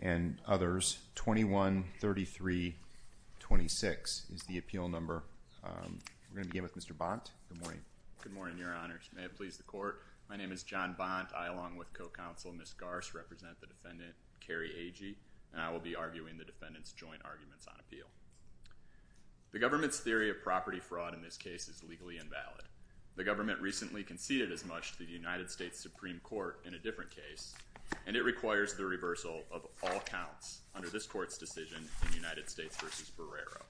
and others, 21-33-26 is the appeal number. We're going to begin with Mr. Bont. Good morning. Good morning, Your Honors. May it please the Court, my name is John Bont. I, along with co-counsel, Ms. Garce, represent the defendant, Carrie Agee, and I will be arguing the defendant's on appeal. The government's theory of property fraud in this case is legally invalid. The government recently conceded as much to the United States Supreme Court in a different case, and it requires the reversal of all counts under this Court's decision in United States v. Barrera.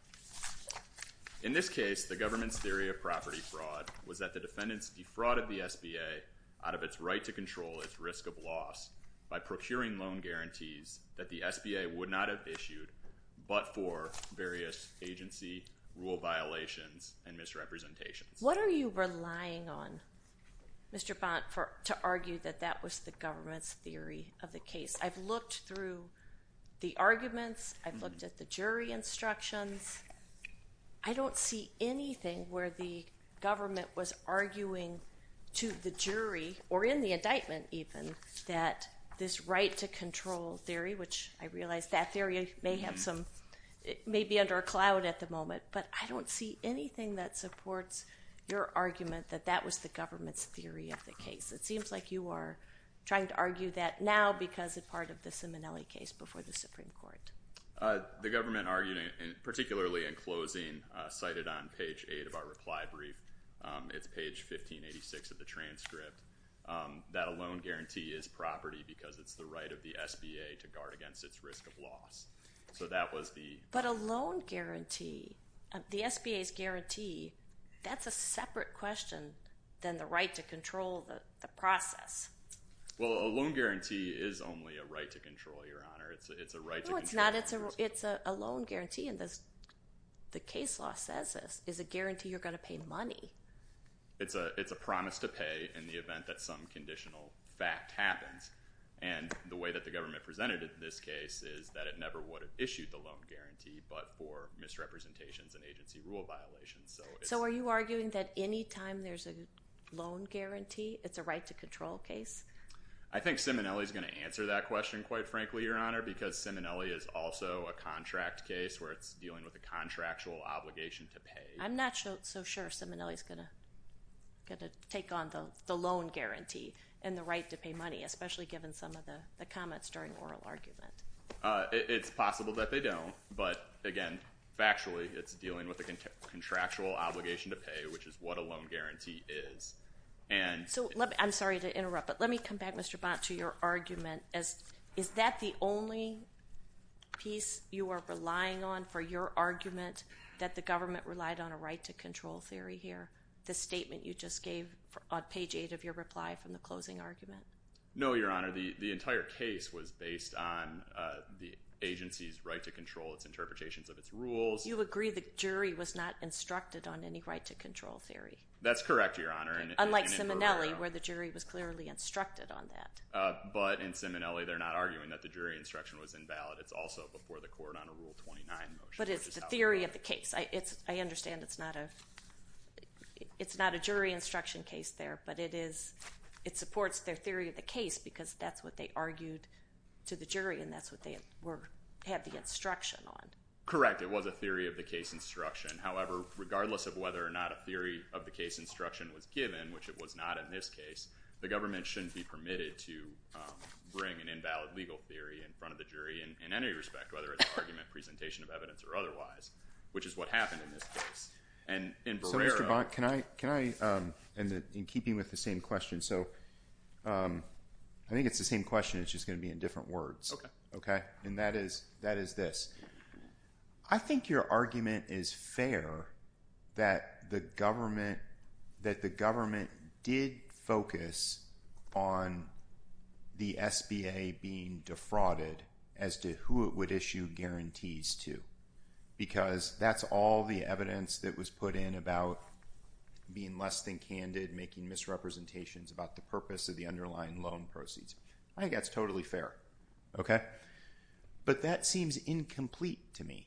In this case, the government's theory of property fraud was that the defendant's defrauded the SBA out of its right to control its risk of loss by procuring loan guarantees that the SBA would not have issued but for various agency rule violations and misrepresentations. What are you relying on, Mr. Bont, to argue that that was the government's theory of the case? I've looked through the arguments. I've looked at the jury instructions. I don't see anything where the government was arguing to the jury, or in the indictment even, that this right to control theory, which I realize that theory may be under a cloud at the moment, but I don't see anything that supports your argument that that was the government's theory of the case. It seems like you are trying to argue that now because it's part of the Simonelli case before the Supreme Court. The government argued, particularly in closing, cited on page 8 of our reply brief, it's page 1586 of the transcript, that a loan guarantee is property because it's the right of the SBA to guard against its risk of loss. So that was the- But a loan guarantee, the SBA's guarantee, that's a separate question than the right to control the process. Well, a loan guarantee is only a right to control, Your Honor. It's a right to control- No, it's not. It's a loan guarantee, and the case law says this, is a guarantee you're going to pay money. It's a promise to pay in the event that some happens, and the way that the government presented it in this case is that it never would have issued the loan guarantee but for misrepresentations and agency rule violations. So are you arguing that any time there's a loan guarantee, it's a right to control case? I think Simonelli's going to answer that question, quite frankly, Your Honor, because Simonelli is also a contract case where it's dealing with a contractual obligation to pay. I'm not so sure Simonelli's going to take on the loan guarantee and the right to pay money, especially given some of the comments during oral argument. It's possible that they don't, but again, factually, it's dealing with a contractual obligation to pay, which is what a loan guarantee is. I'm sorry to interrupt, but let me come back, Mr. Bont, to your argument. Is that the only piece you are relying on for your argument, that the government relied on a right to control theory here, the statement you just gave on page 8 of your reply from the closing argument? No, Your Honor. The entire case was based on the agency's right to control, its interpretations of its rules. You agree the jury was not instructed on any right to control theory? That's correct, Your Honor. Unlike Simonelli, where the jury was clearly instructed on that. But in Simonelli, they're not arguing that the jury instruction was invalid. It's also before the court on a Rule 29 motion. But it's the theory of the case. I understand it's not a jury instruction case there, but it supports their theory of the case, because that's what they argued to the jury, and that's what they had the instruction on. Correct. It was a theory of the case instruction. However, regardless of whether or not a theory of the case instruction was given, which it was not in this case, the government shouldn't be permitted to bring an invalid legal theory in front of the jury in any respect, whether it's argument, presentation of evidence, or otherwise, which is what happened in this case. So, Mr. Bonk, in keeping with the same question, I think it's the same question, it's just going to be in different words. Okay. And that is this. I think your argument is fair that the government did focus on the SBA being defrauded as to who it would issue guarantees to, because that's all the evidence that was put in about being less than candid, making misrepresentations about the purpose of the underlying loan proceeds. I think that's totally fair, okay? But that seems incomplete to me,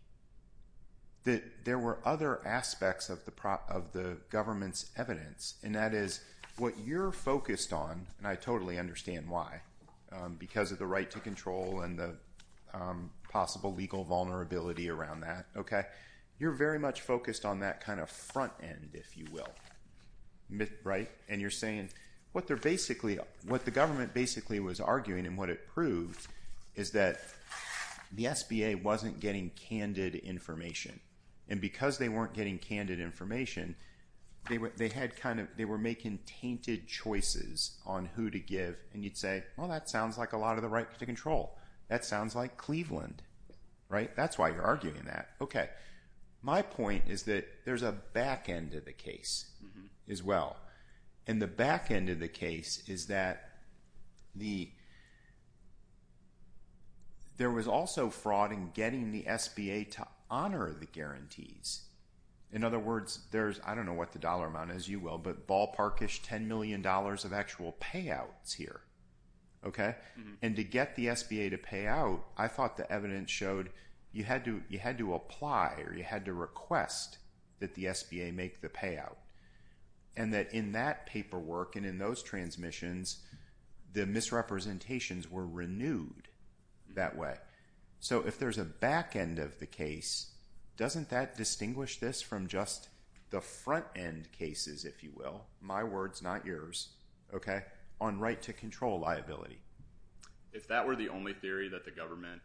that there were other aspects of the government's evidence, and that is what you're focused on, and I totally understand why, because of the right to control and the possible legal vulnerability around that, okay? You're very much focused on that kind of front end, if you will, right? And you're saying what the government basically was arguing and what it proved is that the SBA wasn't getting candid information, and because they weren't getting candid information, they were making tainted choices on who to give, and you'd say, well, that sounds like a lot of the right to control. That sounds like Cleveland, right? That's why you're arguing that. Okay. My point is that there's a back end of the case as well, and the back end of the case is that there was also fraud in getting the SBA to honor the guarantees. In other words, there's, I don't know what the dollar amount is, you will, but ballpark-ish $10 million of actual payouts here, okay? And to get the you had to apply or you had to request that the SBA make the payout, and that in that paperwork and in those transmissions, the misrepresentations were renewed that way. So if there's a back end of the case, doesn't that distinguish this from just the front end cases, if you will? My words, not yours, okay? On right to control liability. If that were the only theory that the government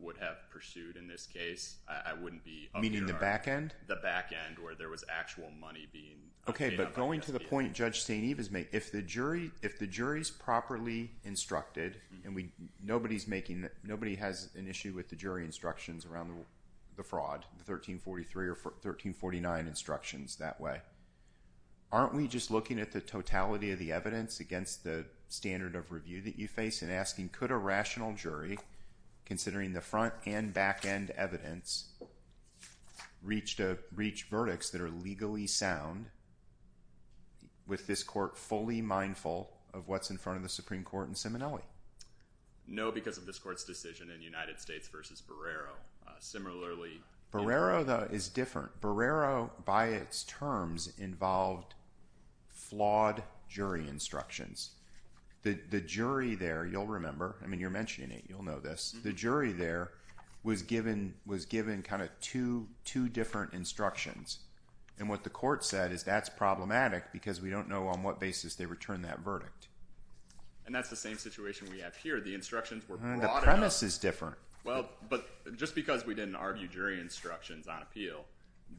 would have pursued in this case, I wouldn't be- Meaning the back end? The back end where there was actual money being- Okay, but going to the point Judge St. Eve has made, if the jury's properly instructed, and nobody has an issue with the jury instructions around the fraud, the 1343 or 1349 instructions that way, aren't we just looking at the totality of the evidence against the standard of review that you face and asking, could a rational jury, considering the front and back end evidence, reach verdicts that are legally sound with this court fully mindful of what's in front of the Supreme Court in Seminole? No, because of this court's decision in United States versus Barrero. Similarly- Barrero, though, is different. Barrero, by its terms, involved flawed jury instructions. The jury there, you'll remember, I mean you're mentioning it, you'll know this. The jury there was given kind of two different instructions. And what the court said is that's problematic because we don't know on what basis they returned that verdict. And that's the same situation we have here. The instructions were brought up- The premise is different. Well, but just because we didn't argue jury instructions on appeal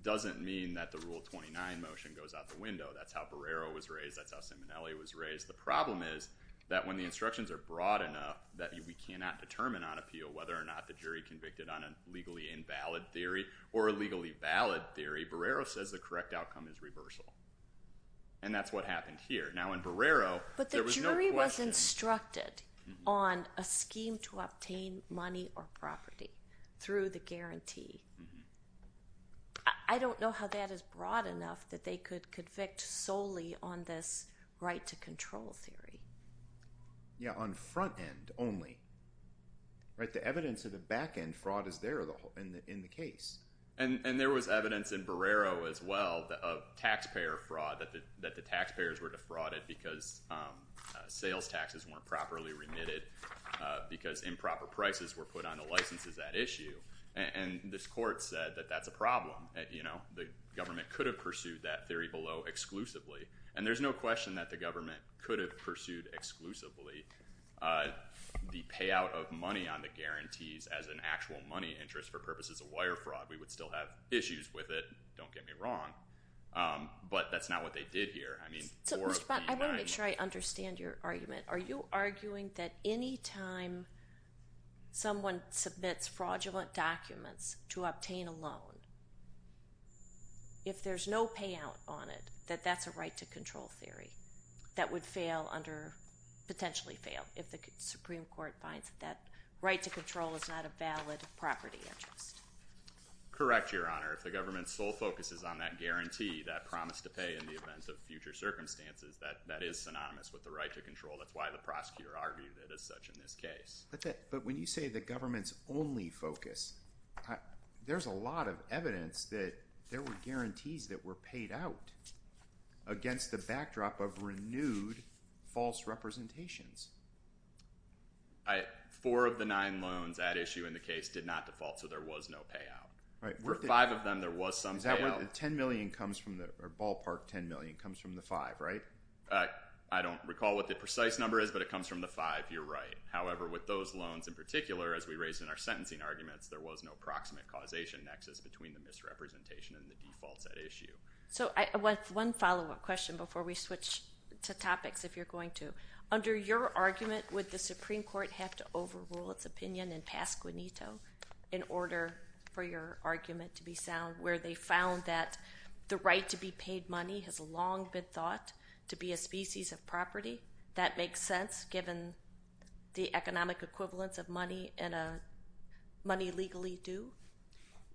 doesn't mean that the Rule 29 motion goes out the window. That's how Barrero was raised, that's how Seminole was raised. The problem is that when the instructions are broad enough that we cannot determine on appeal whether or not the jury convicted on a legally invalid theory or a legally valid theory, Barrero says the correct outcome is reversal. And that's what happened here. Now in Barrero- The jury was instructed on a scheme to obtain money or property through the guarantee. I don't know how that is broad enough that they could convict solely on this right to control theory. Yeah, on front end only. The evidence of the back end fraud is there in the case. And there was evidence in Barrero as well of taxpayer fraud, that the taxpayers were frauded because sales taxes weren't properly remitted, because improper prices were put on the licenses at issue. And this court said that that's a problem. The government could have pursued that theory below exclusively. And there's no question that the government could have pursued exclusively the payout of money on the guarantees as an actual money interest for purposes of wire fraud. We would still have issues with it, don't get me wrong. But that's not what they did here. I want to make sure I understand your argument. Are you arguing that any time someone submits fraudulent documents to obtain a loan, if there's no payout on it, that that's a right to control theory that would potentially fail if the Supreme Court finds that that right to control is not a valid property interest? Correct, Your Honor. If the government's sole focus is on that guarantee, that promise to pay in the event of future circumstances, that is synonymous with the right to control. That's why the prosecutor argued it as such in this case. But when you say the government's only focus, there's a lot of evidence that there were guarantees that were paid out against the backdrop of renewed false representations. Four of the nine loans at issue in the case did not default, so there was no payout. For five of them, there was some payout. The ballpark $10 million comes from the five, right? I don't recall what the precise number is, but it comes from the five, you're right. However, with those loans in particular, as we raised in our sentencing arguments, there was no proximate causation nexus between the misrepresentation and the defaults at issue. One follow-up question before we switch to topics, if you're going to. Under your argument, would the Supreme Court have to overrule its opinion and pass guanito in order for your argument to be sound, where they found that the right to be paid money has long been thought to be a species of property? That makes sense, given the economic equivalence of money and money legally due?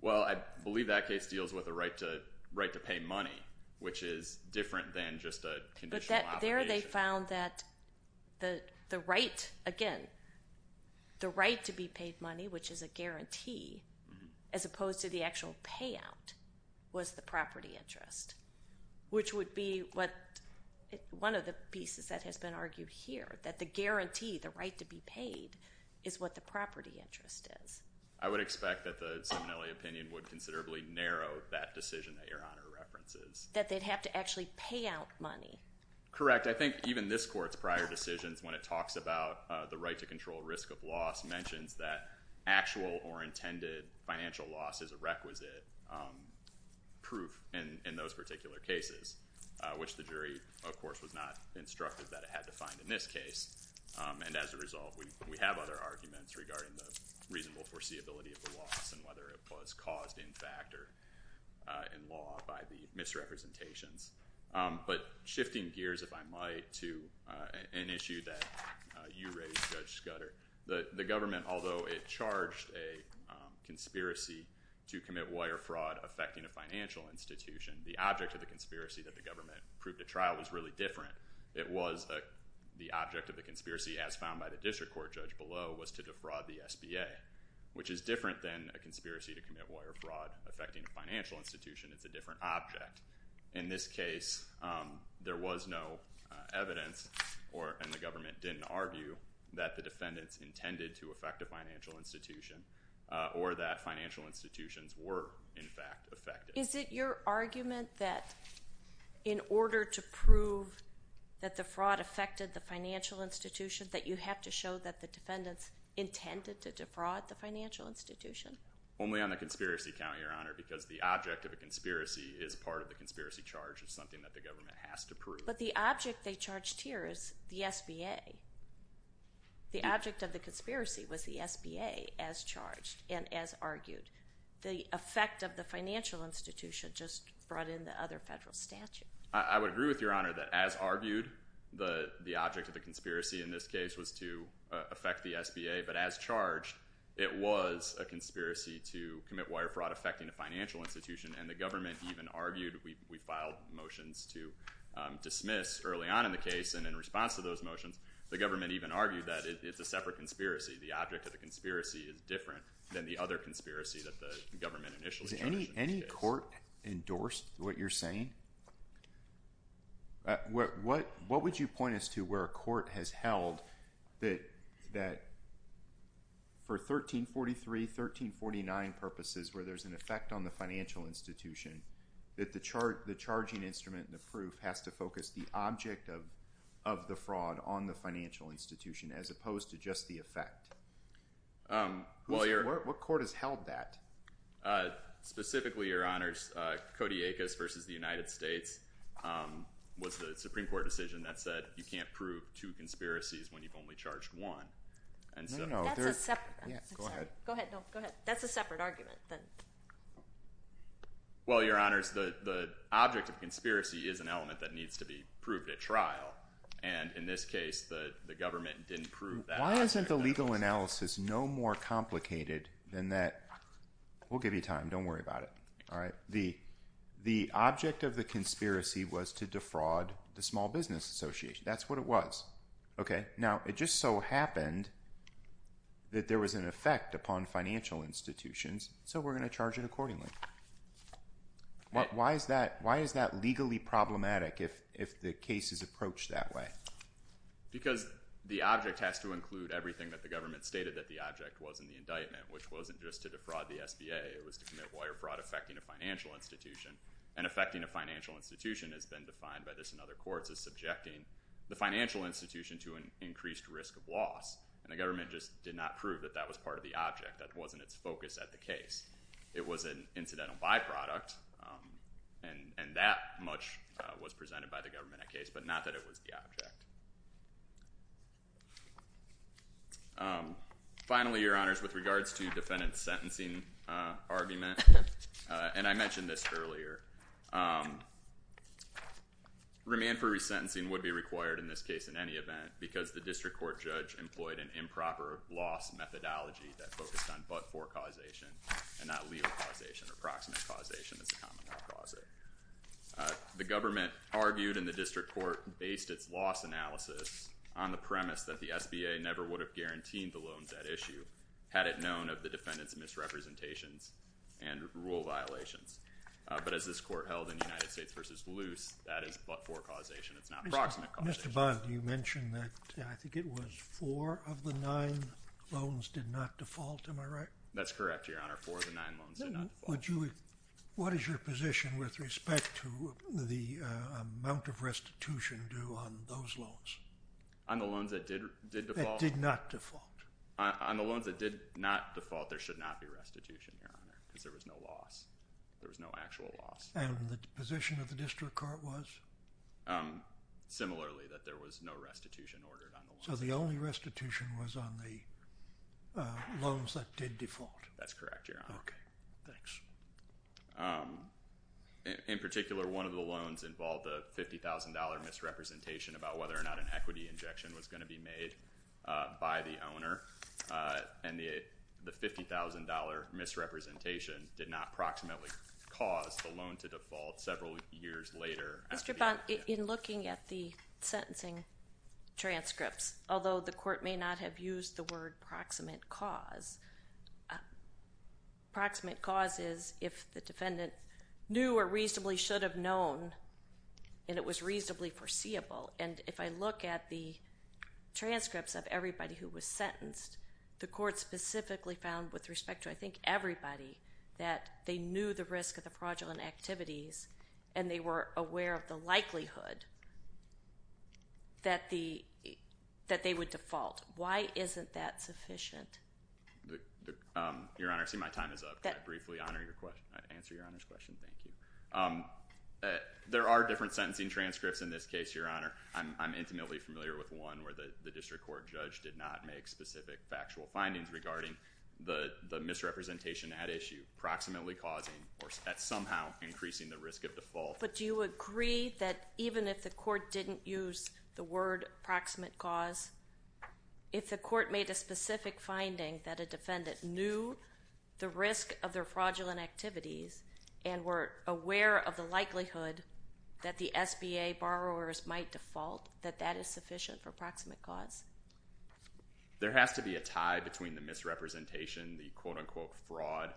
Well, I believe that case deals with the right to pay money, which is different than just a conditional obligation. But there they found that the right, again, the right to be paid money, which is a guarantee, as opposed to the actual payout, was the property interest, which would be one of the pieces that has been argued here, that the guarantee, the right to be paid, is what the property interest is. I would expect that the Simonelli opinion would considerably narrow that decision that Your Honor references. That they'd have to actually pay out money. Correct. I think even this Court's prior decisions, when it talks about the right to control risk of loss, mentions that actual or intended financial loss is a requisite proof in those particular cases, which the jury, of course, was not instructed that it had to find in this case. And as a result, we have other arguments regarding the reasonable foreseeability of the loss and whether it was caused in fact or in law by the misrepresentations. But shifting gears, if I might, to an issue that you raised, Judge Scudder, the government, although it charged a conspiracy to commit wire fraud affecting a financial institution, the object of the conspiracy that the government proved at trial was really different. It was the object of the conspiracy, as found by the district court judge below, was to defraud the SBA, which is different than a conspiracy to commit wire fraud affecting a financial institution. It's a different object. In this case, there was no evidence, and the government didn't argue, that the defendants intended to affect a financial institution or that financial institutions were in fact affected. Is it your argument that in order to prove that the fraud affected the financial institution, that you have to show that the defendants intended to defraud the financial institution? Only on the conspiracy count, Your Honor, because the object of a conspiracy is part of the conspiracy charge. It's something that the government has to prove. But the object they charged here is the SBA. The object of the conspiracy was the SBA, as charged and as argued. The effect of the financial institution just brought in the other federal statute. I would agree with Your Honor that as argued, the object of the conspiracy in this case was to affect the SBA, but as charged, it was a conspiracy to commit wire fraud affecting a financial institution, and the government even argued, we filed motions to dismiss early on in the case, and in response to those motions, the government even argued that it's a separate conspiracy. The object of the conspiracy is different than the other conspiracy that the government initially charged in this case. Is any court endorsed what you're saying? What would you point us to where a court has held that for 1343, 1349 purposes, where there's an effect on the financial institution, that the charging instrument and the proof has to focus the object of the fraud on the financial institution as opposed to just the effect? What court has held that? Specifically, Your Honors, Cody Aikas versus the United States was the Supreme Court decision that said you can't prove two conspiracies when you've only charged one. That's a separate argument. Well, Your Honors, the object of conspiracy is an element that needs to be proved at trial, and in this case, the government didn't prove that. Why isn't the legal analysis no more complicated than that? We'll give you time. Don't worry about it. The object of the conspiracy was to defraud the Small Business Association. That's what it was. Okay. Now, it just so happened that there was an effect upon financial institutions, so we're going to charge it accordingly. Why is that legally problematic if the case is approached that way? Because the object has to include everything that the government stated that the object was in the indictment, which wasn't just to defraud the SBA. It was to commit wire fraud affecting a financial institution, and affecting a financial institution has been defined by this in other courts as subjecting the financial institution to an increased risk of loss, and the government just did not prove that that was part of the object, that wasn't its focus at the case. It was an incidental byproduct, and that much was presented by the government at case, but not that it was the object. Finally, Your Honors, with regards to defendant's sentencing argument, and I mentioned this earlier, remand for resentencing would be required in this case in any event, because the district court judge employed an improper loss methodology that focused on but-for causation, and not legal causation or proximate causation as a common law causate. The government argued, and the district court based its loss analysis on the premise that the SBA never would have guaranteed the loans at issue had it known of the defendant's misrepresentations and rule violations, but as this court held in United States v. Luce, that is but-for causation, it's not proximate causation. Mr. Bond, you mentioned that, I think it was four of the nine loans did not default, am I right? That's correct, Your Honor, four of the nine loans did not default. What is your position with respect to the amount of restitution due on those loans? That did not default. On the loans that did not default, there should not be restitution, Your Honor, because there was no loss. There was no actual loss. And the position of the district court was? Similarly, that there was no restitution ordered on the loans. So the only restitution was on the loans that did default? That's correct, Your Honor. Okay, thanks. In particular, one of the loans involved a $50,000 misrepresentation about whether or not an equity injection was going to be made by the owner. And the $50,000 misrepresentation did not proximately cause the loan to default several years later. Mr. Bond, in looking at the sentencing transcripts, although the court may not have used the word proximate cause, proximate cause is if the defendant knew or reasonably should have known and it was reasonably foreseeable. And if I look at the transcripts of everybody who was sentenced, the court specifically found with respect to, I think, everybody, that they knew the risk of the fraudulent activities and they were aware of the likelihood that they would default. Why isn't that sufficient? Your Honor, I see my time is up. Can I briefly answer Your Honor's question? Thank you. There are different sentencing transcripts in this case, Your Honor. I'm intimately familiar with one where the district court judge did not make specific factual findings regarding the misrepresentation at issue, proximately causing or somehow increasing the risk of default. But do you agree that even if the court didn't use the word proximate cause, if the court made a specific finding that a defendant knew the risk of their fraudulent activities and were aware of the likelihood that the SBA borrowers might default, that that is sufficient for proximate cause? There has to be a tie between the misrepresentation, the quote-unquote fraud,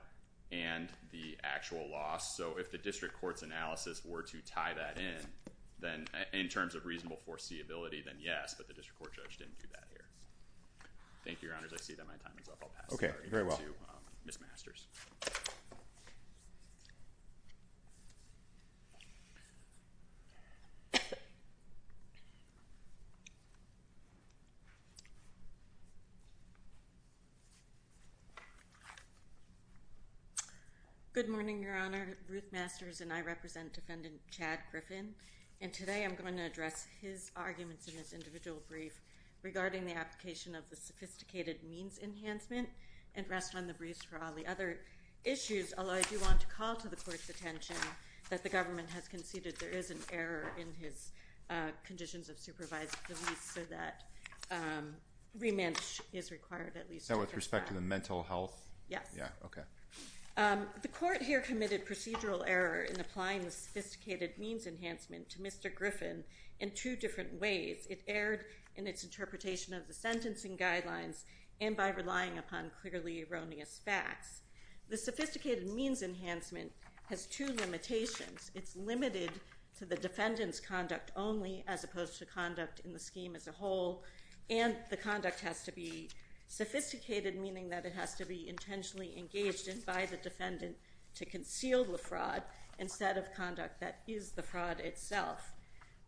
and the actual loss. So if the district court's analysis were to tie that in, in terms of reasonable foreseeability, then yes. But the district court judge didn't do that here. Thank you, Your Honor. I see that my time is up. I'll pass it on to Ms. Masters. Thank you. Good morning, Your Honor. Ruth Masters, and I represent Defendant Chad Griffin, and today I'm going to address his arguments in this individual brief regarding the application of the sophisticated means enhancement and rest on the briefs for all the other issues. Although I do want to call to the court's attention that the government has conceded there is an error in his conditions of supervised release so that remand is required at least. With respect to the mental health? Yes. Okay. The court here committed procedural error in applying the sophisticated means enhancement to Mr. Griffin in two different ways. It erred in its interpretation of the sentencing guidelines and by relying upon clearly erroneous facts. The sophisticated means enhancement has two limitations. It's limited to the defendant's conduct only as opposed to conduct in the scheme as a whole, and the conduct has to be sophisticated, meaning that it has to be intentionally engaged in by the defendant to conceal the fraud instead of conduct that is the fraud itself.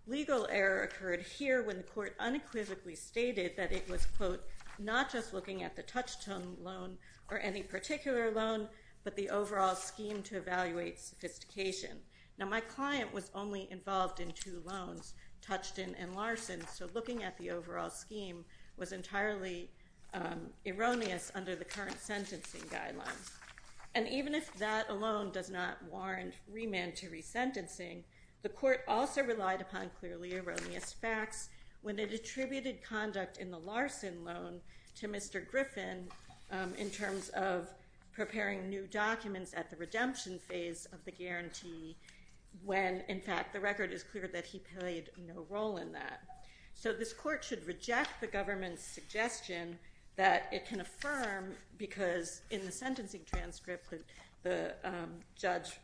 Legal error occurred here when the court unequivocally stated that it was, quote, not just looking at the Touchstone loan or any particular loan, but the overall scheme to evaluate sophistication. Now my client was only involved in two loans, Touchstone and Larson, so looking at the overall scheme was entirely erroneous under the current sentencing guidelines. And even if that alone does not warrant remand to resentencing, the court also relied upon clearly erroneous facts when it attributed conduct in the Larson loan to Mr. Griffin in terms of preparing new documents at the redemption phase of the guarantee when, in fact, the record is clear that he played no role in that. So this court should reject the government's suggestion that it can affirm because in the sentencing transcript the judge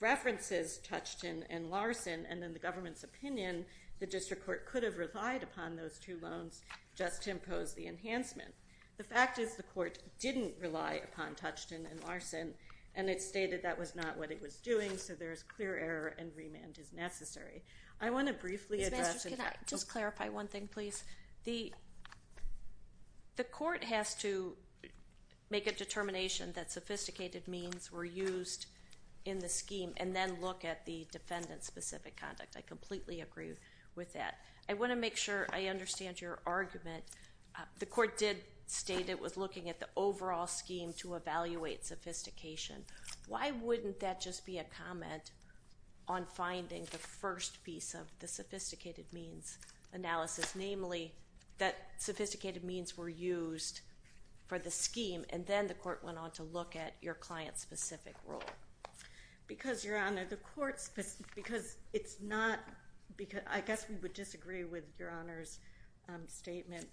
references Touchstone and Larson and in the government's opinion the district court could have relied upon those two loans just to impose the enhancement. The fact is the court didn't rely upon Touchstone and Larson, and it stated that was not what it was doing, so there is clear error and remand is necessary. I want to briefly address— Ms. Masters, can I just clarify one thing, please? The court has to make a determination that sophisticated means were used in the scheme and then look at the defendant-specific conduct. I completely agree with that. I want to make sure I understand your argument. The court did state it was looking at the overall scheme to evaluate sophistication. Why wouldn't that just be a comment on finding the first piece of the sophisticated means analysis, namely that sophisticated means were used for the scheme and then the court went on to look at your client-specific role? Because, Your Honor, the court's—because it's not— I guess we would disagree with Your Honor's statement.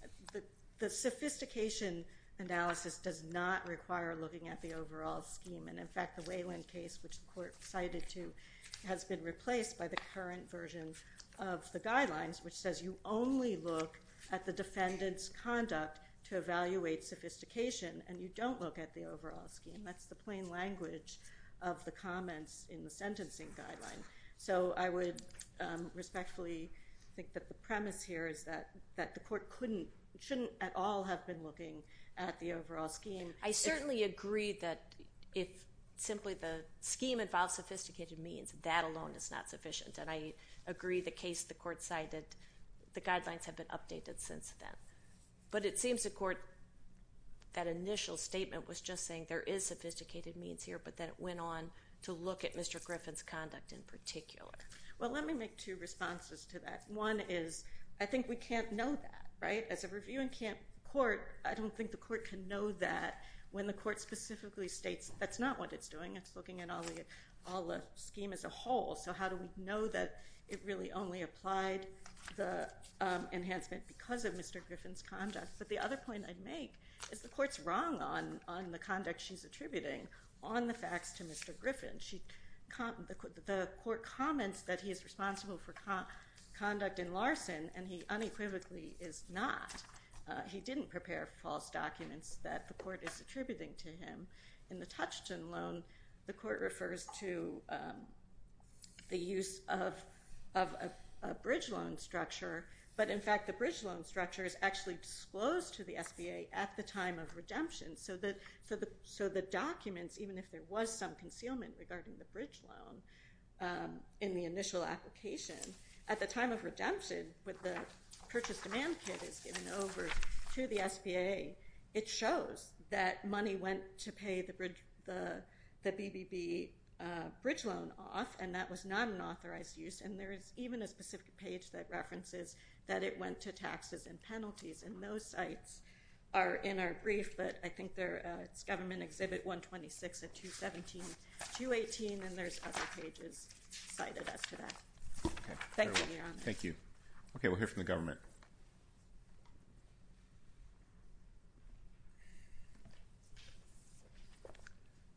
The sophistication analysis does not require looking at the overall scheme, and in fact the Wayland case, which the court cited to, has been replaced by the current version of the guidelines, which says you only look at the defendant's conduct to evaluate sophistication, and you don't look at the overall scheme. That's the plain language of the comments in the sentencing guideline. So I would respectfully think that the premise here is that the court couldn't— shouldn't at all have been looking at the overall scheme. I certainly agree that if simply the scheme involves sophisticated means, that alone is not sufficient, and I agree the case the court cited, the guidelines have been updated since then. But it seems the court—that initial statement was just saying there is sophisticated means here, but then it went on to look at Mr. Griffin's conduct in particular. Well, let me make two responses to that. One is I think we can't know that, right? As a review in court, I don't think the court can know that when the court specifically states that's not what it's doing. It's looking at all the scheme as a whole. So how do we know that it really only applied the enhancement because of Mr. Griffin's conduct? But the other point I'd make is the court's wrong on the conduct she's attributing on the facts to Mr. Griffin. The court comments that he is responsible for conduct in Larson, and he unequivocally is not. He didn't prepare false documents that the court is attributing to him. In the Touchton loan, the court refers to the use of a bridge loan structure, but in fact the bridge loan structure is actually disclosed to the SBA at the time of redemption. So the documents, even if there was some concealment regarding the bridge loan in the initial application, at the time of redemption with the purchase demand kit is given over to the SBA, it shows that money went to pay the BBB bridge loan off, and that was not an authorized use. And there is even a specific page that references that it went to taxes and penalties, and those sites are in our brief, but I think it's Government Exhibit 126 at 217-218, and there's other pages cited as to that. Thank you, Your Honor. Thank you. Okay, we'll hear from the government.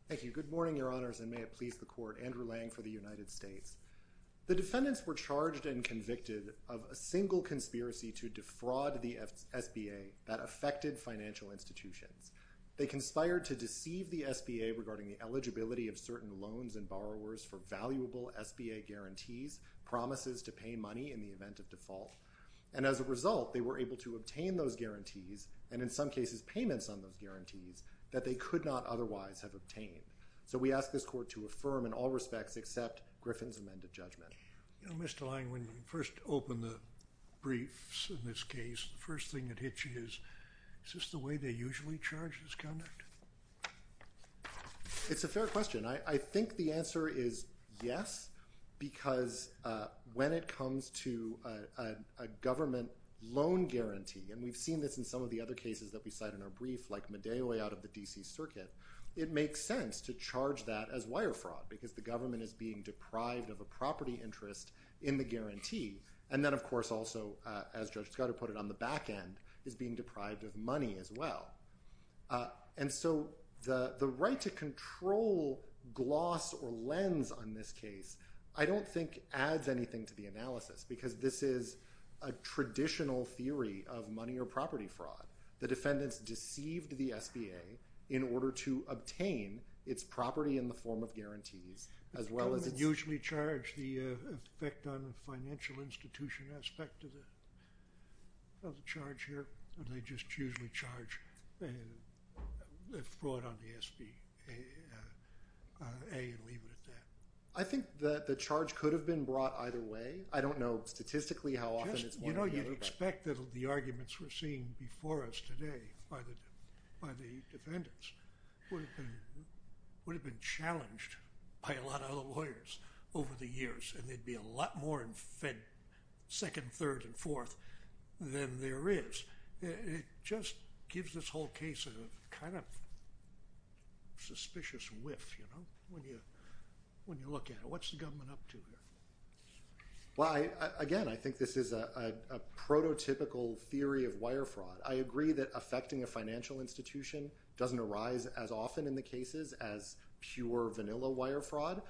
Thank you. Good morning, Your Honors, and may it please the Court. Andrew Lang for the United States. The defendants were charged and convicted of a single conspiracy to defraud the SBA that affected financial institutions. They conspired to deceive the SBA regarding the eligibility of certain loans and borrowers for valuable SBA guarantees, promises to pay money in the event of default. And as a result, they were able to obtain those guarantees, and in some cases payments on those guarantees, that they could not otherwise have obtained. So we ask this Court to affirm in all respects except Griffin's amended judgment. You know, Mr. Lang, when you first open the briefs in this case, the first thing that hits you is, is this the way they usually charge this conduct? It's a fair question. I think the answer is yes, because when it comes to a government loan guarantee, and we've seen this in some of the other cases that we cite in our brief, like Medeo out of the D.C. Circuit, it makes sense to charge that as wire fraud, because the government is being deprived of a property interest in the guarantee. And then, of course, also, as Judge Scudder put it on the back end, is being deprived of money as well. And so the right to control gloss or lens on this case, I don't think adds anything to the analysis, because this is a traditional theory of money or property fraud. The defendants deceived the SBA in order to obtain its property in the form of guarantees, as well as it usually charged the effect on the financial institution aspect of the charge here, and they just usually charge the fraud on the SBA and leave it at that. I think that the charge could have been brought either way. I don't know statistically how often it's brought either way. You know, you'd expect that the arguments we're seeing before us today by the defendants would have been challenged by a lot of other lawyers over the years, and they'd be a lot more fed second, third, and fourth than there is. It just gives this whole case a kind of suspicious whiff, you know, when you look at it. What's the government up to here? Well, again, I think this is a prototypical theory of wire fraud. I agree that affecting a financial institution doesn't arise as often in the cases as pure vanilla wire fraud,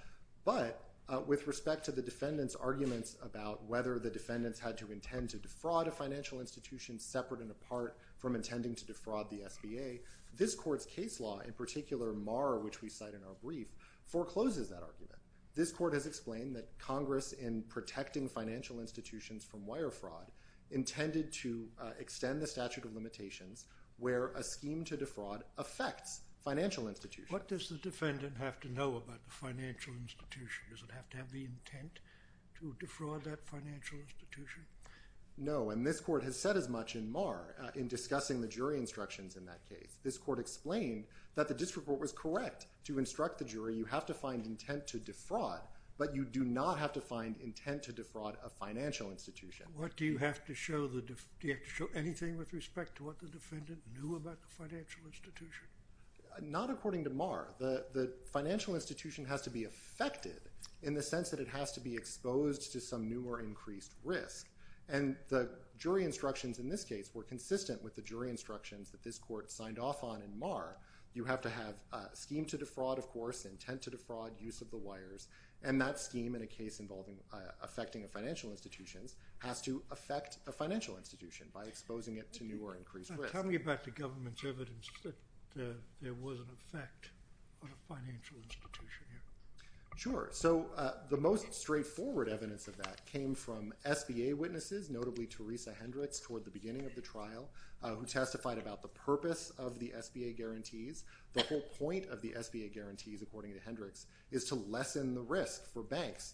but with respect to the defendants' arguments about whether the defendants had to intend to defraud a financial institution separate and apart from intending to defraud the SBA, this court's case law, in particular Marr, which we cite in our brief, forecloses that argument. This court has explained that Congress, in protecting financial institutions from wire fraud, intended to extend the statute of limitations where a scheme to defraud affects financial institutions. What does the defendant have to know about the financial institution? Does it have to have the intent to defraud that financial institution? No, and this court has said as much in Marr in discussing the jury instructions in that case. This court explained that the district court was correct to instruct the jury, you have to find intent to defraud, but you do not have to find intent to defraud a financial institution. Do you have to show anything with respect to what the defendant knew about the financial institution? Not according to Marr. The financial institution has to be affected in the sense that it has to be exposed to some new or increased risk, and the jury instructions in this case were consistent with the jury instructions that this court signed off on in Marr. You have to have a scheme to defraud, of course, intent to defraud, use of the wires, and that scheme in a case involving affecting financial institutions has to affect a financial institution by exposing it to new or increased risk. Tell me about the government's evidence that there was an effect on a financial institution here. Sure. So the most straightforward evidence of that came from SBA witnesses, notably Teresa Hendricks toward the beginning of the trial, who testified about the purpose of the SBA guarantees. The whole point of the SBA guarantees, according to Hendricks, is to lessen the risk for banks,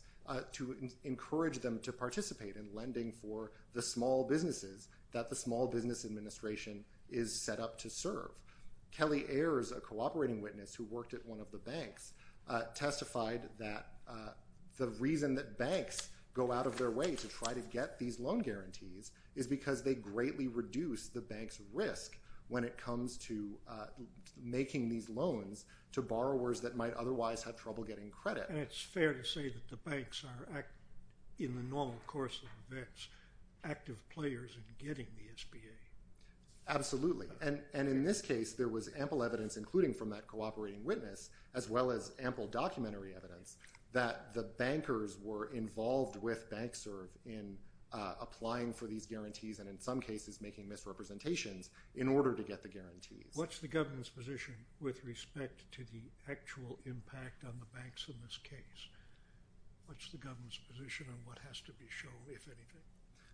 to encourage them to participate in lending for the small businesses that the Small Business Administration is set up to serve. Kelly Ayers, a cooperating witness who worked at one of the banks, testified that the reason that banks go out of their way to try to get these loan guarantees is because they greatly reduce the bank's risk when it comes to making these loans to borrowers that might otherwise have trouble getting credit. And it's fair to say that the banks are, in the normal course of events, active players in getting the SBA. Absolutely. And in this case, there was ample evidence, including from that cooperating witness, as well as ample documentary evidence that the bankers were involved with BankServe in applying for these guarantees and, in some cases, making misrepresentations in order to get the guarantees. What's the government's position with respect to the actual impact on the banks in this case? What's the government's position on what has to be shown, if anything?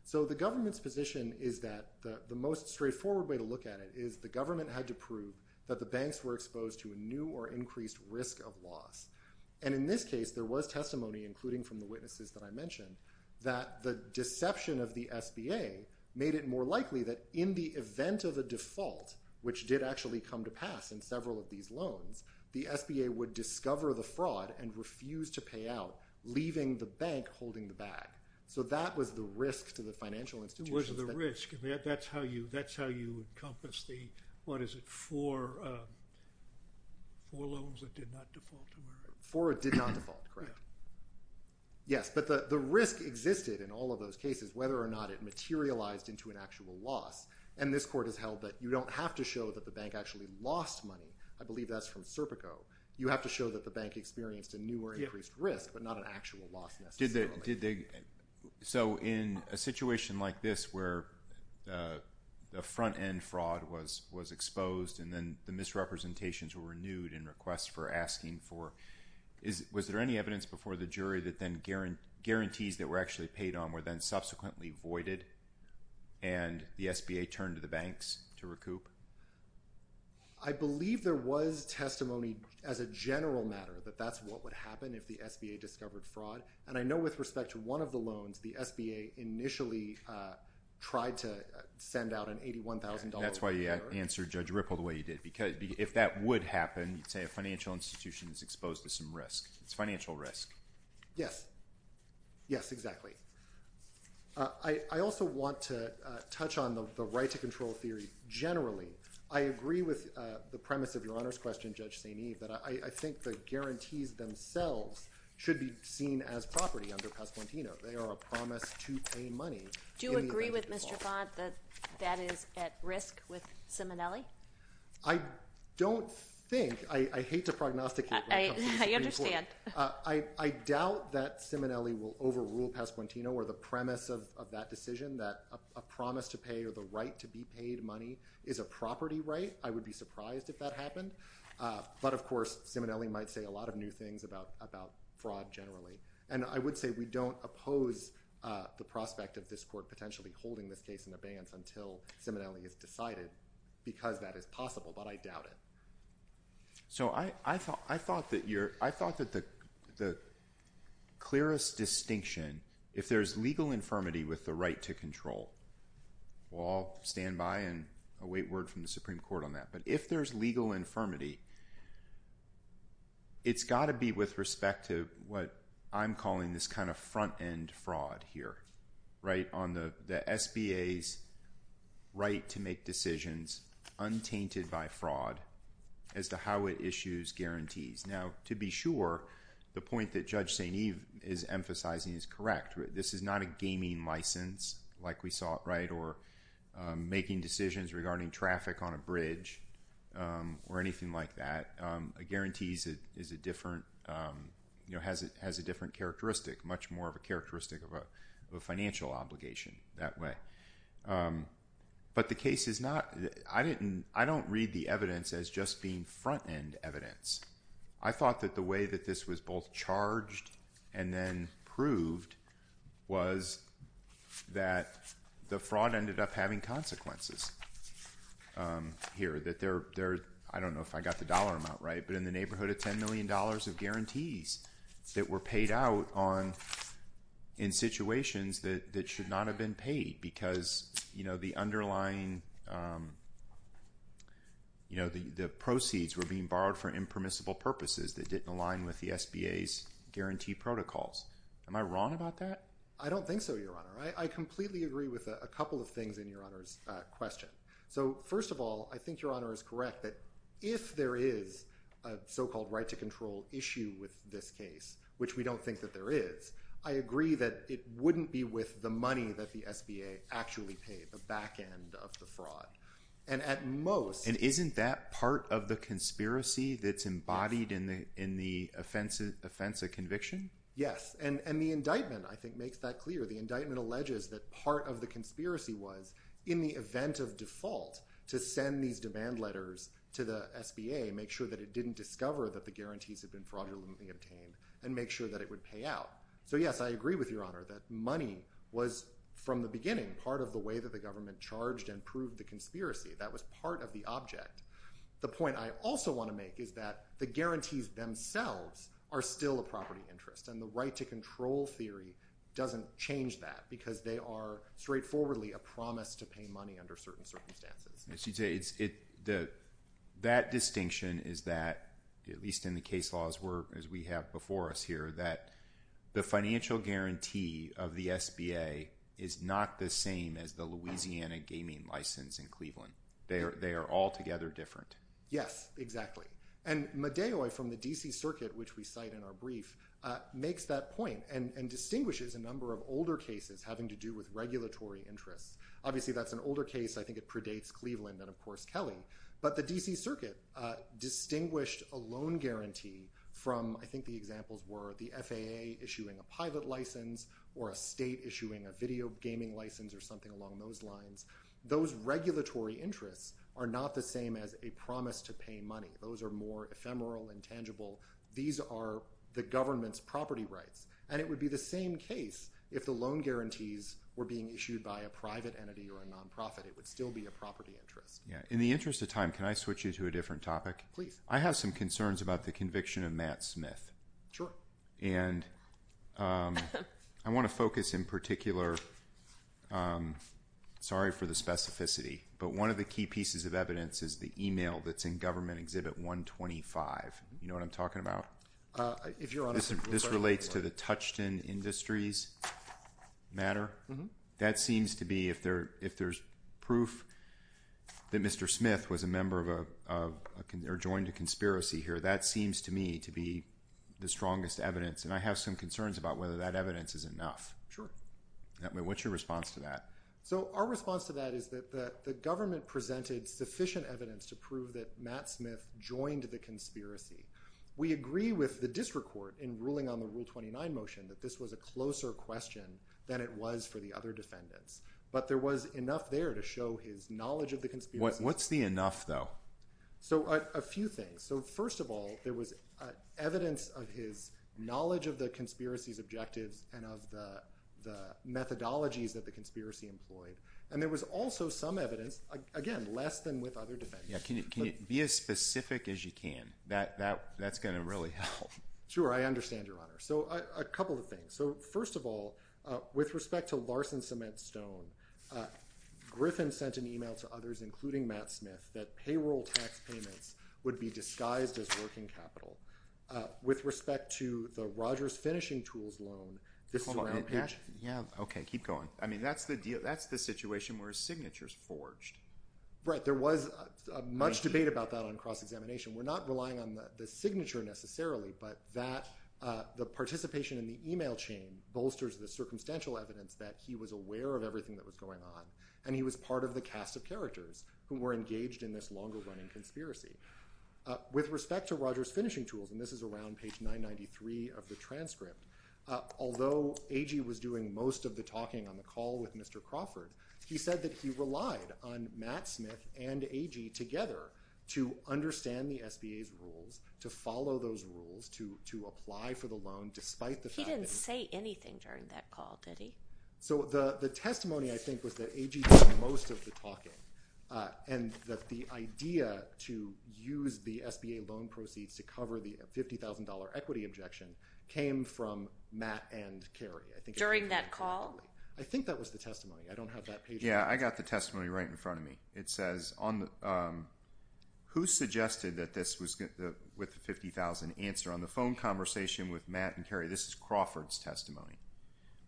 So the government's position is that the most straightforward way to look at it is the government had to prove that the banks were exposed to a new or increased risk of loss. And in this case, there was testimony, including from the witnesses that I mentioned, that the deception of the SBA made it more likely that in the event of a default, which did actually come to pass in several of these loans, the SBA would discover the fraud and refuse to pay out, leaving the bank holding the bag. So that was the risk to the financial institutions. What was the risk? That's how you encompass the, what is it, four loans that did not default? Four did not default, correct. Yes, but the risk existed in all of those cases, whether or not it materialized into an actual loss. And this court has held that you don't have to show that the bank actually lost money. I believe that's from Serpico. You have to show that the bank experienced a new or increased risk, but not an actual loss necessarily. So in a situation like this, where the front-end fraud was exposed and then the misrepresentations were renewed in request for asking for, was there any evidence before the jury that then guarantees that were actually paid on were then subsequently voided and the SBA turned to the banks to recoup? I believe there was testimony as a general matter that that's what would happen if the SBA discovered fraud. And I know with respect to one of the loans, the SBA initially tried to send out an $81,000. That's why you answered Judge Ripple the way you did. If that would happen, you'd say a financial institution is exposed to some risk. It's financial risk. Yes. Yes, exactly. I also want to touch on the right-to-control theory generally. I agree with the premise of Your Honor's question, Judge St. Eve, that I think the guarantees themselves should be seen as property under Pasquantino. They are a promise to pay money in the event of default. Do you agree with Mr. Font that that is at risk with Simonelli? I don't think. I hate to prognosticate. I understand. I doubt that Simonelli will overrule Pasquantino or the premise of that decision that a promise to pay or the right to be paid money is a property right. I would be surprised if that happened. But, of course, Simonelli might say a lot of new things about fraud generally. And I would say we don't oppose the prospect of this court potentially holding this case in abeyance until Simonelli is decided because that is possible. But I doubt it. So I thought that the clearest distinction, if there's legal infirmity with the right to control, we'll all stand by and await word from the Supreme Court on that. But if there's legal infirmity, it's got to be with respect to what I'm calling this kind of front-end fraud here, right, on the SBA's right to make decisions untainted by fraud as to how it issues guarantees. Now, to be sure, the point that Judge St. Eve is emphasizing is correct. This is not a gaming license like we saw, right, or making decisions regarding traffic on a bridge or anything like that. A guarantee has a different characteristic, much more of a characteristic of a financial obligation that way. But the case is not – I don't read the evidence as just being front-end evidence. I thought that the way that this was both charged and then proved was that the fraud ended up having consequences here. I don't know if I got the dollar amount right, but in the neighborhood of $10 million of guarantees that were paid out in situations that should not have been paid because the underlying – the proceeds were being borrowed for impermissible purposes that didn't align with the SBA's guarantee protocols. Am I wrong about that? I don't think so, Your Honor. I completely agree with a couple of things in Your Honor's question. So, first of all, I think Your Honor is correct that if there is a so-called right-to-control issue with this case, which we don't think that there is, I agree that it wouldn't be with the money that the SBA actually paid, the back end of the fraud. And at most – And isn't that part of the conspiracy that's embodied in the offense of conviction? Yes, and the indictment, I think, makes that clear. The indictment alleges that part of the conspiracy was, in the event of default, to send these demand letters to the SBA, make sure that it didn't discover that the guarantees had been fraudulently obtained, and make sure that it would pay out. So, yes, I agree with Your Honor that money was, from the beginning, part of the way that the government charged and proved the conspiracy. That was part of the object. The point I also want to make is that the guarantees themselves are still a property interest, and the right-to-control theory doesn't change that because they are straightforwardly a promise to pay money under certain circumstances. That distinction is that, at least in the case laws as we have before us here, that the financial guarantee of the SBA is not the same as the Louisiana gaming license in Cleveland. They are altogether different. Yes, exactly. And Medeo from the D.C. Circuit, which we cite in our brief, makes that point and distinguishes a number of older cases having to do with regulatory interests. Obviously, that's an older case. I think it predates Cleveland and, of course, Kelly. But the D.C. Circuit distinguished a loan guarantee from, I think the examples were, the FAA issuing a pilot license or a state issuing a video gaming license or something along those lines. Those regulatory interests are not the same as a promise to pay money. Those are more ephemeral and tangible. These are the government's property rights. And it would be the same case if the loan guarantees were being issued by a private entity or a nonprofit. It would still be a property interest. In the interest of time, can I switch you to a different topic? Please. I have some concerns about the conviction of Matt Smith. Sure. And I want to focus in particular, sorry for the specificity, but one of the key pieces of evidence is the e-mail that's in Government Exhibit 125. You know what I'm talking about? If you're honest, I'm sorry. This relates to the Touchton Industries matter. That seems to be, if there's proof that Mr. Smith was a member of or joined a conspiracy here, that seems to me to be the strongest evidence. And I have some concerns about whether that evidence is enough. Sure. What's your response to that? So our response to that is that the government presented sufficient evidence to prove that Matt Smith joined the conspiracy. We agree with the district court in ruling on the Rule 29 motion that this was a closer question than it was for the other defendants. But there was enough there to show his knowledge of the conspiracy. What's the enough, though? So a few things. So first of all, there was evidence of his knowledge of the conspiracy's objectives and of the methodologies that the conspiracy employed. And there was also some evidence, again, less than with other defendants. Can you be as specific as you can? That's going to really help. Sure. I understand, Your Honor. So a couple of things. So first of all, with respect to Larson Cement Stone, Griffin sent an e-mail to others, including Matt Smith, that payroll tax payments would be disguised as working capital. With respect to the Rogers Finishing Tools loan, this is a round page. Hold on. Yeah. Okay. Keep going. I mean, that's the situation where a signature is forged. Right. There was much debate about that on cross-examination. We're not relying on the signature necessarily, but that the participation in the e-mail chain bolsters the circumstantial evidence that he was aware of everything that was going on, and he was part of the cast of characters who were engaged in this longer-running conspiracy. With respect to Rogers Finishing Tools, and this is a round page 993 of the transcript, although Agee was doing most of the talking on the call with Mr. Crawford, he said that he relied on Matt Smith and Agee together to understand the SBA's rules, to follow those rules, to apply for the loan despite the fact that he didn't say anything during that call, did he? So the testimony, I think, was that Agee did most of the talking, and that the idea to use the SBA loan proceeds to cover the $50,000 equity objection came from Matt and Carrie. During that call? I think that was the testimony. I don't have that page. Yeah, I got the testimony right in front of me. It says, who suggested that this was with the $50,000 answer on the phone conversation with Matt and Carrie? This is Crawford's testimony.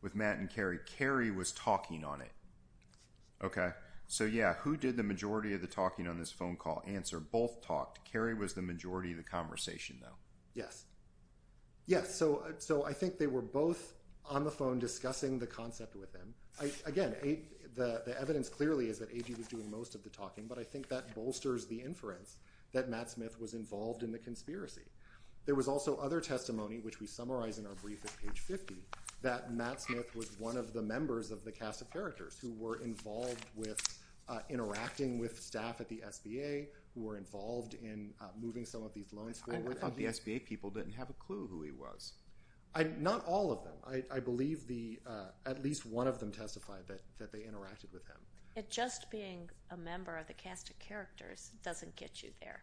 With Matt and Carrie, Carrie was talking on it. Okay, so yeah, who did the majority of the talking on this phone call answer? Both talked. Carrie was the majority of the conversation, though. Yes. Yeah, so I think they were both on the phone discussing the concept with him. Again, the evidence clearly is that Agee was doing most of the talking, but I think that bolsters the inference that Matt Smith was involved in the conspiracy. There was also other testimony, which we summarize in our brief at page 50, that Matt Smith was one of the members of the cast of characters who were involved with interacting with staff at the SBA, who were involved in moving some of these loans forward. I thought the SBA people didn't have a clue who he was. Not all of them. I believe at least one of them testified that they interacted with him. It just being a member of the cast of characters doesn't get you there.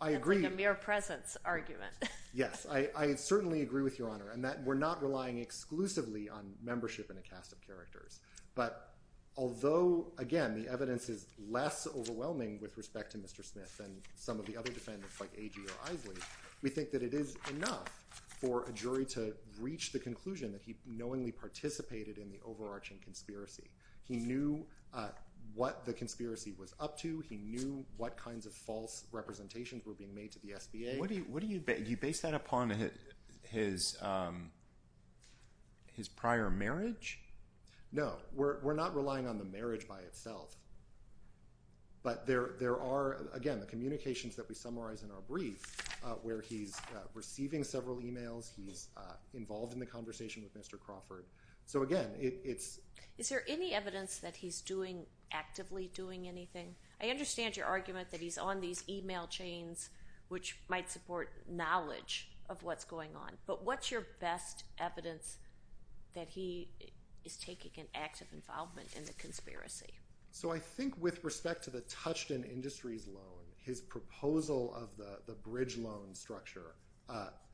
I agree. It's like a mere presence argument. Yes. I certainly agree with Your Honor in that we're not relying exclusively on membership in a cast of characters, but although, again, the evidence is less overwhelming with respect to Mr. Smith than some of the other defendants like Agee or Isley, we think that it is enough for a jury to reach the conclusion that he knowingly participated in the overarching conspiracy. He knew what the conspiracy was up to. He knew what kinds of false representations were being made to the SBA. Do you base that upon his prior marriage? No. We're not relying on the marriage by itself, but there are, again, the communications that we summarize in our brief where he's receiving several e-mails, he's involved in the conversation with Mr. Crawford. So, again, it's... Is there any evidence that he's actively doing anything? I understand your argument that he's on these e-mail chains which might support knowledge of what's going on, but what's your best evidence that he is taking an active involvement in the conspiracy? So I think with respect to the Touchton Industries loan, his proposal of the bridge loan structure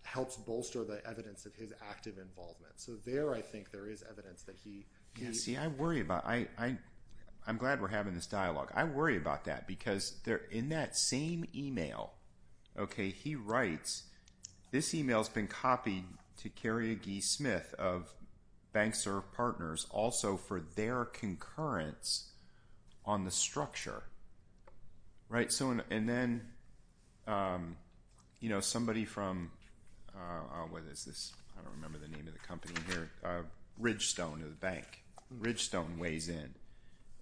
helps bolster the evidence of his active involvement. So there I think there is evidence that he... See, I worry about... I'm glad we're having this dialogue. I worry about that because in that same e-mail, okay, he writes, this e-mail has been copied to Kerry and Guy Smith of banks or partners also for their concurrence on the structure, right? And then somebody from... What is this? I don't remember the name of the company here. Ridgestone of the bank. Ridgestone weighs in.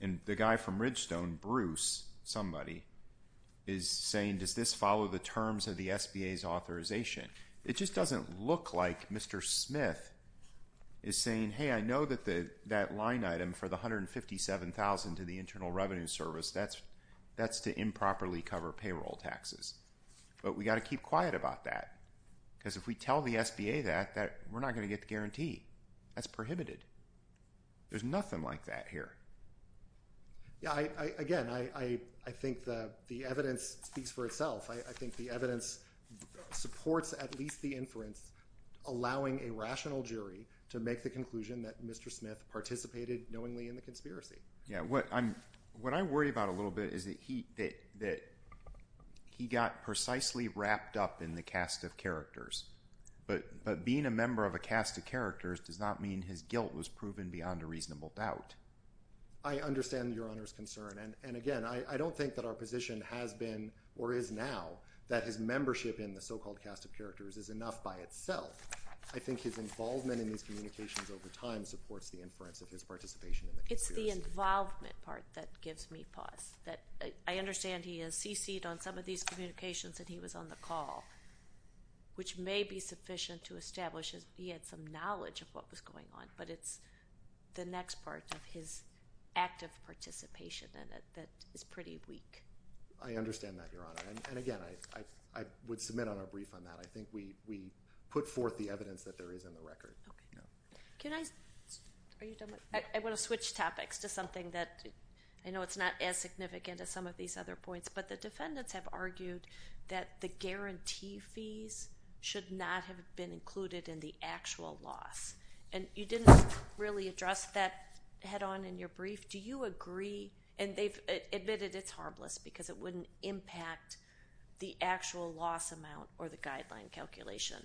And the guy from Ridgestone, Bruce, somebody, is saying, does this follow the terms of the SBA's authorization? It just doesn't look like Mr. Smith is saying, hey, I know that that line item for the $157,000 to the Internal Revenue Service, that's to improperly cover payroll taxes. But we've got to keep quiet about that because if we tell the SBA that, we're not going to get the guarantee. That's prohibited. There's nothing like that here. Yeah, again, I think the evidence speaks for itself. I think the evidence supports at least the inference allowing a rational jury to make the conclusion that Mr. Smith participated knowingly in the conspiracy. Yeah, what I worry about a little bit is that he got precisely wrapped up in the cast of characters. But being a member of a cast of characters does not mean his guilt was proven beyond a reasonable doubt. I understand Your Honor's concern. And again, I don't think that our position has been or is now that his membership in the so-called cast of characters is enough by itself. I think his involvement in these communications over time supports the inference of his participation in the conspiracy. It's the involvement part that gives me pause. I understand he has cc'd on some of these communications and he was on the call, which may be sufficient to establish he had some knowledge of what was going on. But it's the next part of his active participation in it that is pretty weak. I understand that, Your Honor. And again, I would submit on a brief on that. I think we put forth the evidence that there is in the record. I want to switch topics to something that I know it's not as significant as some of these other points, but the defendants have argued that the guarantee fees should not have been included in the actual loss. And you didn't really address that head-on in your brief. Do you agree, and they've admitted it's harmless because it wouldn't impact the actual loss amount or the guideline calculation.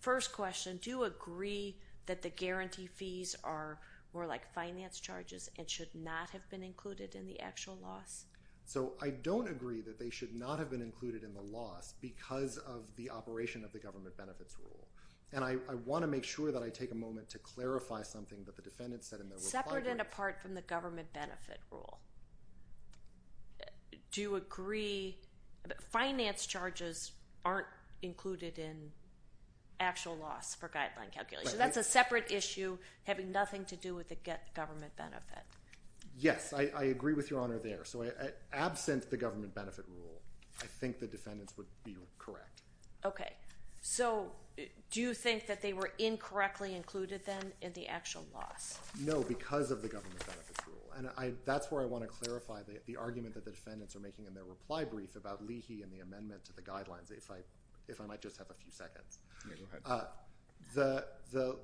First question, do you agree that the guarantee fees are more like finance charges and should not have been included in the actual loss? So I don't agree that they should not have been included in the loss because of the operation of the government benefits rule. And I want to make sure that I take a moment to clarify something that the defendant said in their reply. Separate and apart from the government benefit rule. Do you agree that finance charges aren't included in actual loss for guideline calculation? That's a separate issue having nothing to do with the government benefit. Yes, I agree with Your Honor there. So absent the government benefit rule, I think the defendants would be correct. Okay. So do you think that they were incorrectly included then in the actual loss? No, because of the government benefits rule. And that's where I want to clarify the argument that the defendants are making in their reply brief about Leahy and the amendment to the guidelines, if I might just have a few seconds. Okay, go ahead. The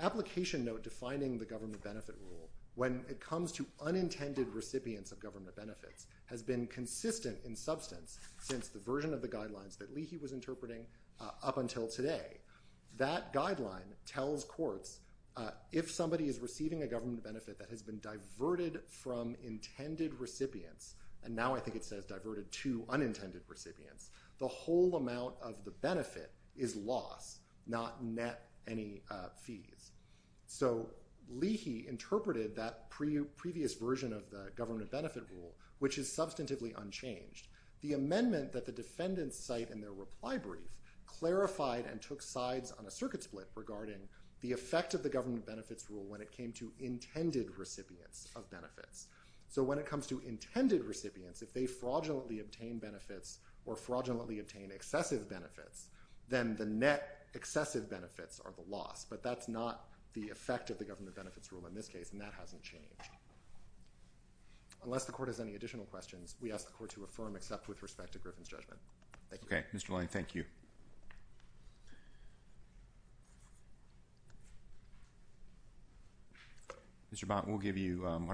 application note defining the government benefit rule, when it comes to unintended recipients of government benefits, has been consistent in substance since the version of the guidelines that Leahy was interpreting up until today. That guideline tells courts if somebody is receiving a government benefit that has been diverted from intended recipients, and now I think it says diverted to unintended recipients, the whole amount of the benefit is loss, not net any fees. So Leahy interpreted that previous version of the government benefit rule, which is substantively unchanged. The amendment that the defendants cite in their reply brief clarified and took sides on a circuit split regarding the effect of the government benefits rule when it came to intended recipients of benefits. So when it comes to intended recipients, if they fraudulently obtain benefits or fraudulently obtain excessive benefits, then the net excessive benefits are the loss. But that's not the effect of the government benefits rule in this case, and that hasn't changed. Unless the court has any additional questions, we ask the court to affirm except with respect to Griffin's judgment. Thank you. Okay, Mr. Lange, thank you. Mr. Bont, why don't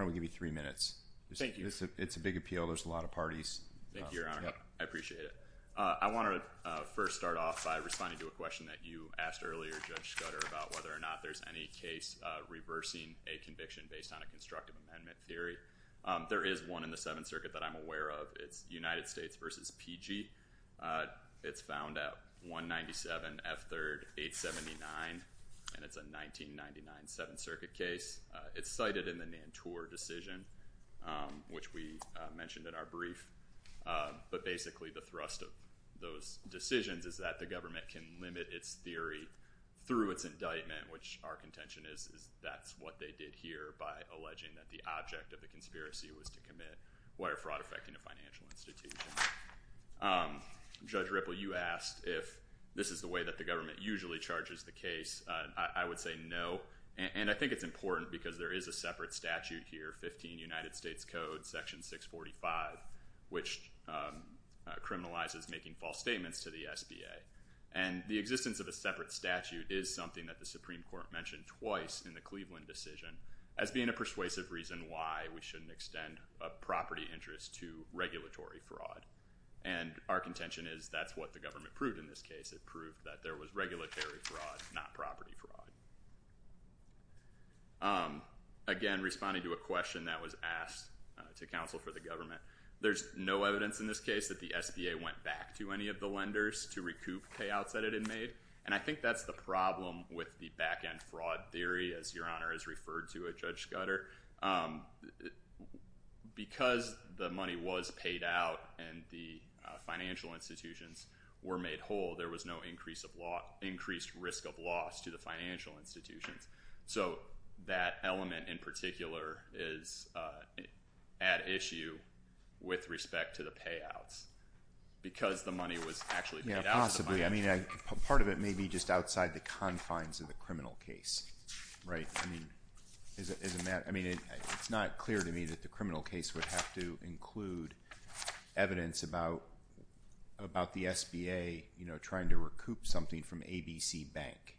we give you three minutes? Thank you. It's a big appeal. There's a lot of parties. Thank you, Your Honor. I appreciate it. I want to first start off by responding to a question that you asked earlier, Judge Scudder, about whether or not there's any case reversing a conviction based on a constructive amendment theory. There is one in the Seventh Circuit that I'm aware of. It's United States v. PG. It's found at 197 F. 3rd 879, and it's a 1999 Seventh Circuit case. It's cited in the Nantour decision, which we mentioned in our brief. Basically, the thrust of those decisions is that the government can limit its theory through its indictment, which our contention is that's what they did here by alleging that the object of the conspiracy was to commit wire fraud affecting a financial institution. Judge Ripple, you asked if this is the way that the government usually charges the case. I would say no, and I think it's important because there is a separate statute here, 15 United States Code, Section 645, which criminalizes making false statements to the SBA, and the existence of a separate statute is something that the Supreme Court mentioned twice in the Cleveland decision as being a persuasive reason why we shouldn't extend a property interest to regulatory fraud, and our contention is that's what the government proved in this case. It proved that there was regulatory fraud, not property fraud. Again, responding to a question that was asked to counsel for the government, there's no evidence in this case that the SBA went back to any of the lenders to recoup payouts that it had made, and I think that's the problem with the back-end fraud theory, as Your Honor has referred to it, Judge Scudder. Because the money was paid out and the financial institutions were made whole, there was no increased risk of loss to the financial institutions. So that element in particular is at issue with respect to the payouts because the money was actually paid out. Yeah, possibly. I mean, part of it may be just outside the confines of the criminal case, right? I mean, it's not clear to me that the criminal case would have to include evidence about the SBA, you know, trying to recoup something from ABC Bank.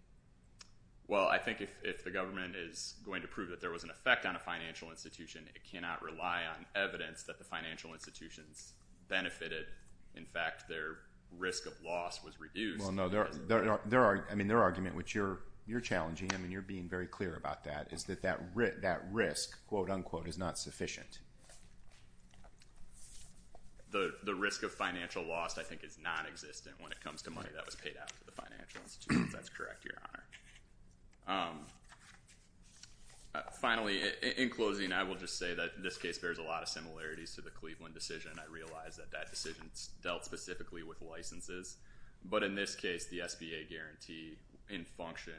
Well, I think if the government is going to prove that there was an effect on a financial institution, it cannot rely on evidence that the financial institutions benefited. In fact, their risk of loss was reduced. Well, no, I mean, their argument, which you're challenging, I mean, you're being very clear about that, is that that risk, quote, unquote, is not sufficient. The risk of financial loss, I think, is nonexistent when it comes to money that was paid out to the financial institutions. That's correct, Your Honor. Finally, in closing, I will just say that this case bears a lot of similarities to the Cleveland decision, and I realize that that decision dealt specifically with licenses. But in this case, the SBA guarantee in function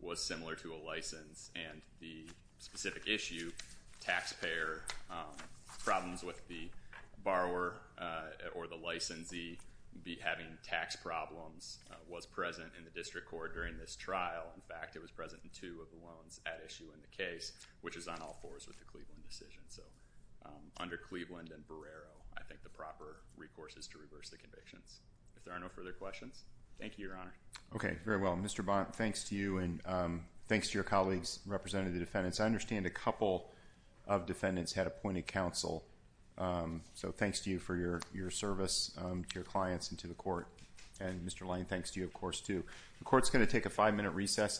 was similar to a license, and the specific issue, taxpayer problems with the borrower or the licensee having tax problems, was present in the district court during this trial. In fact, it was present in two of the loans at issue in the case, which is on all fours with the Cleveland decision. So under Cleveland and Barrero, I think the proper recourse is to reverse the convictions. If there are no further questions, thank you, Your Honor. Okay, very well. Mr. Bont, thanks to you, and thanks to your colleagues representing the defendants. I understand a couple of defendants had appointed counsel, so thanks to you for your service to your clients and to the court. And Mr. Lange, thanks to you, of course, too. The court's going to take a five-minute recess.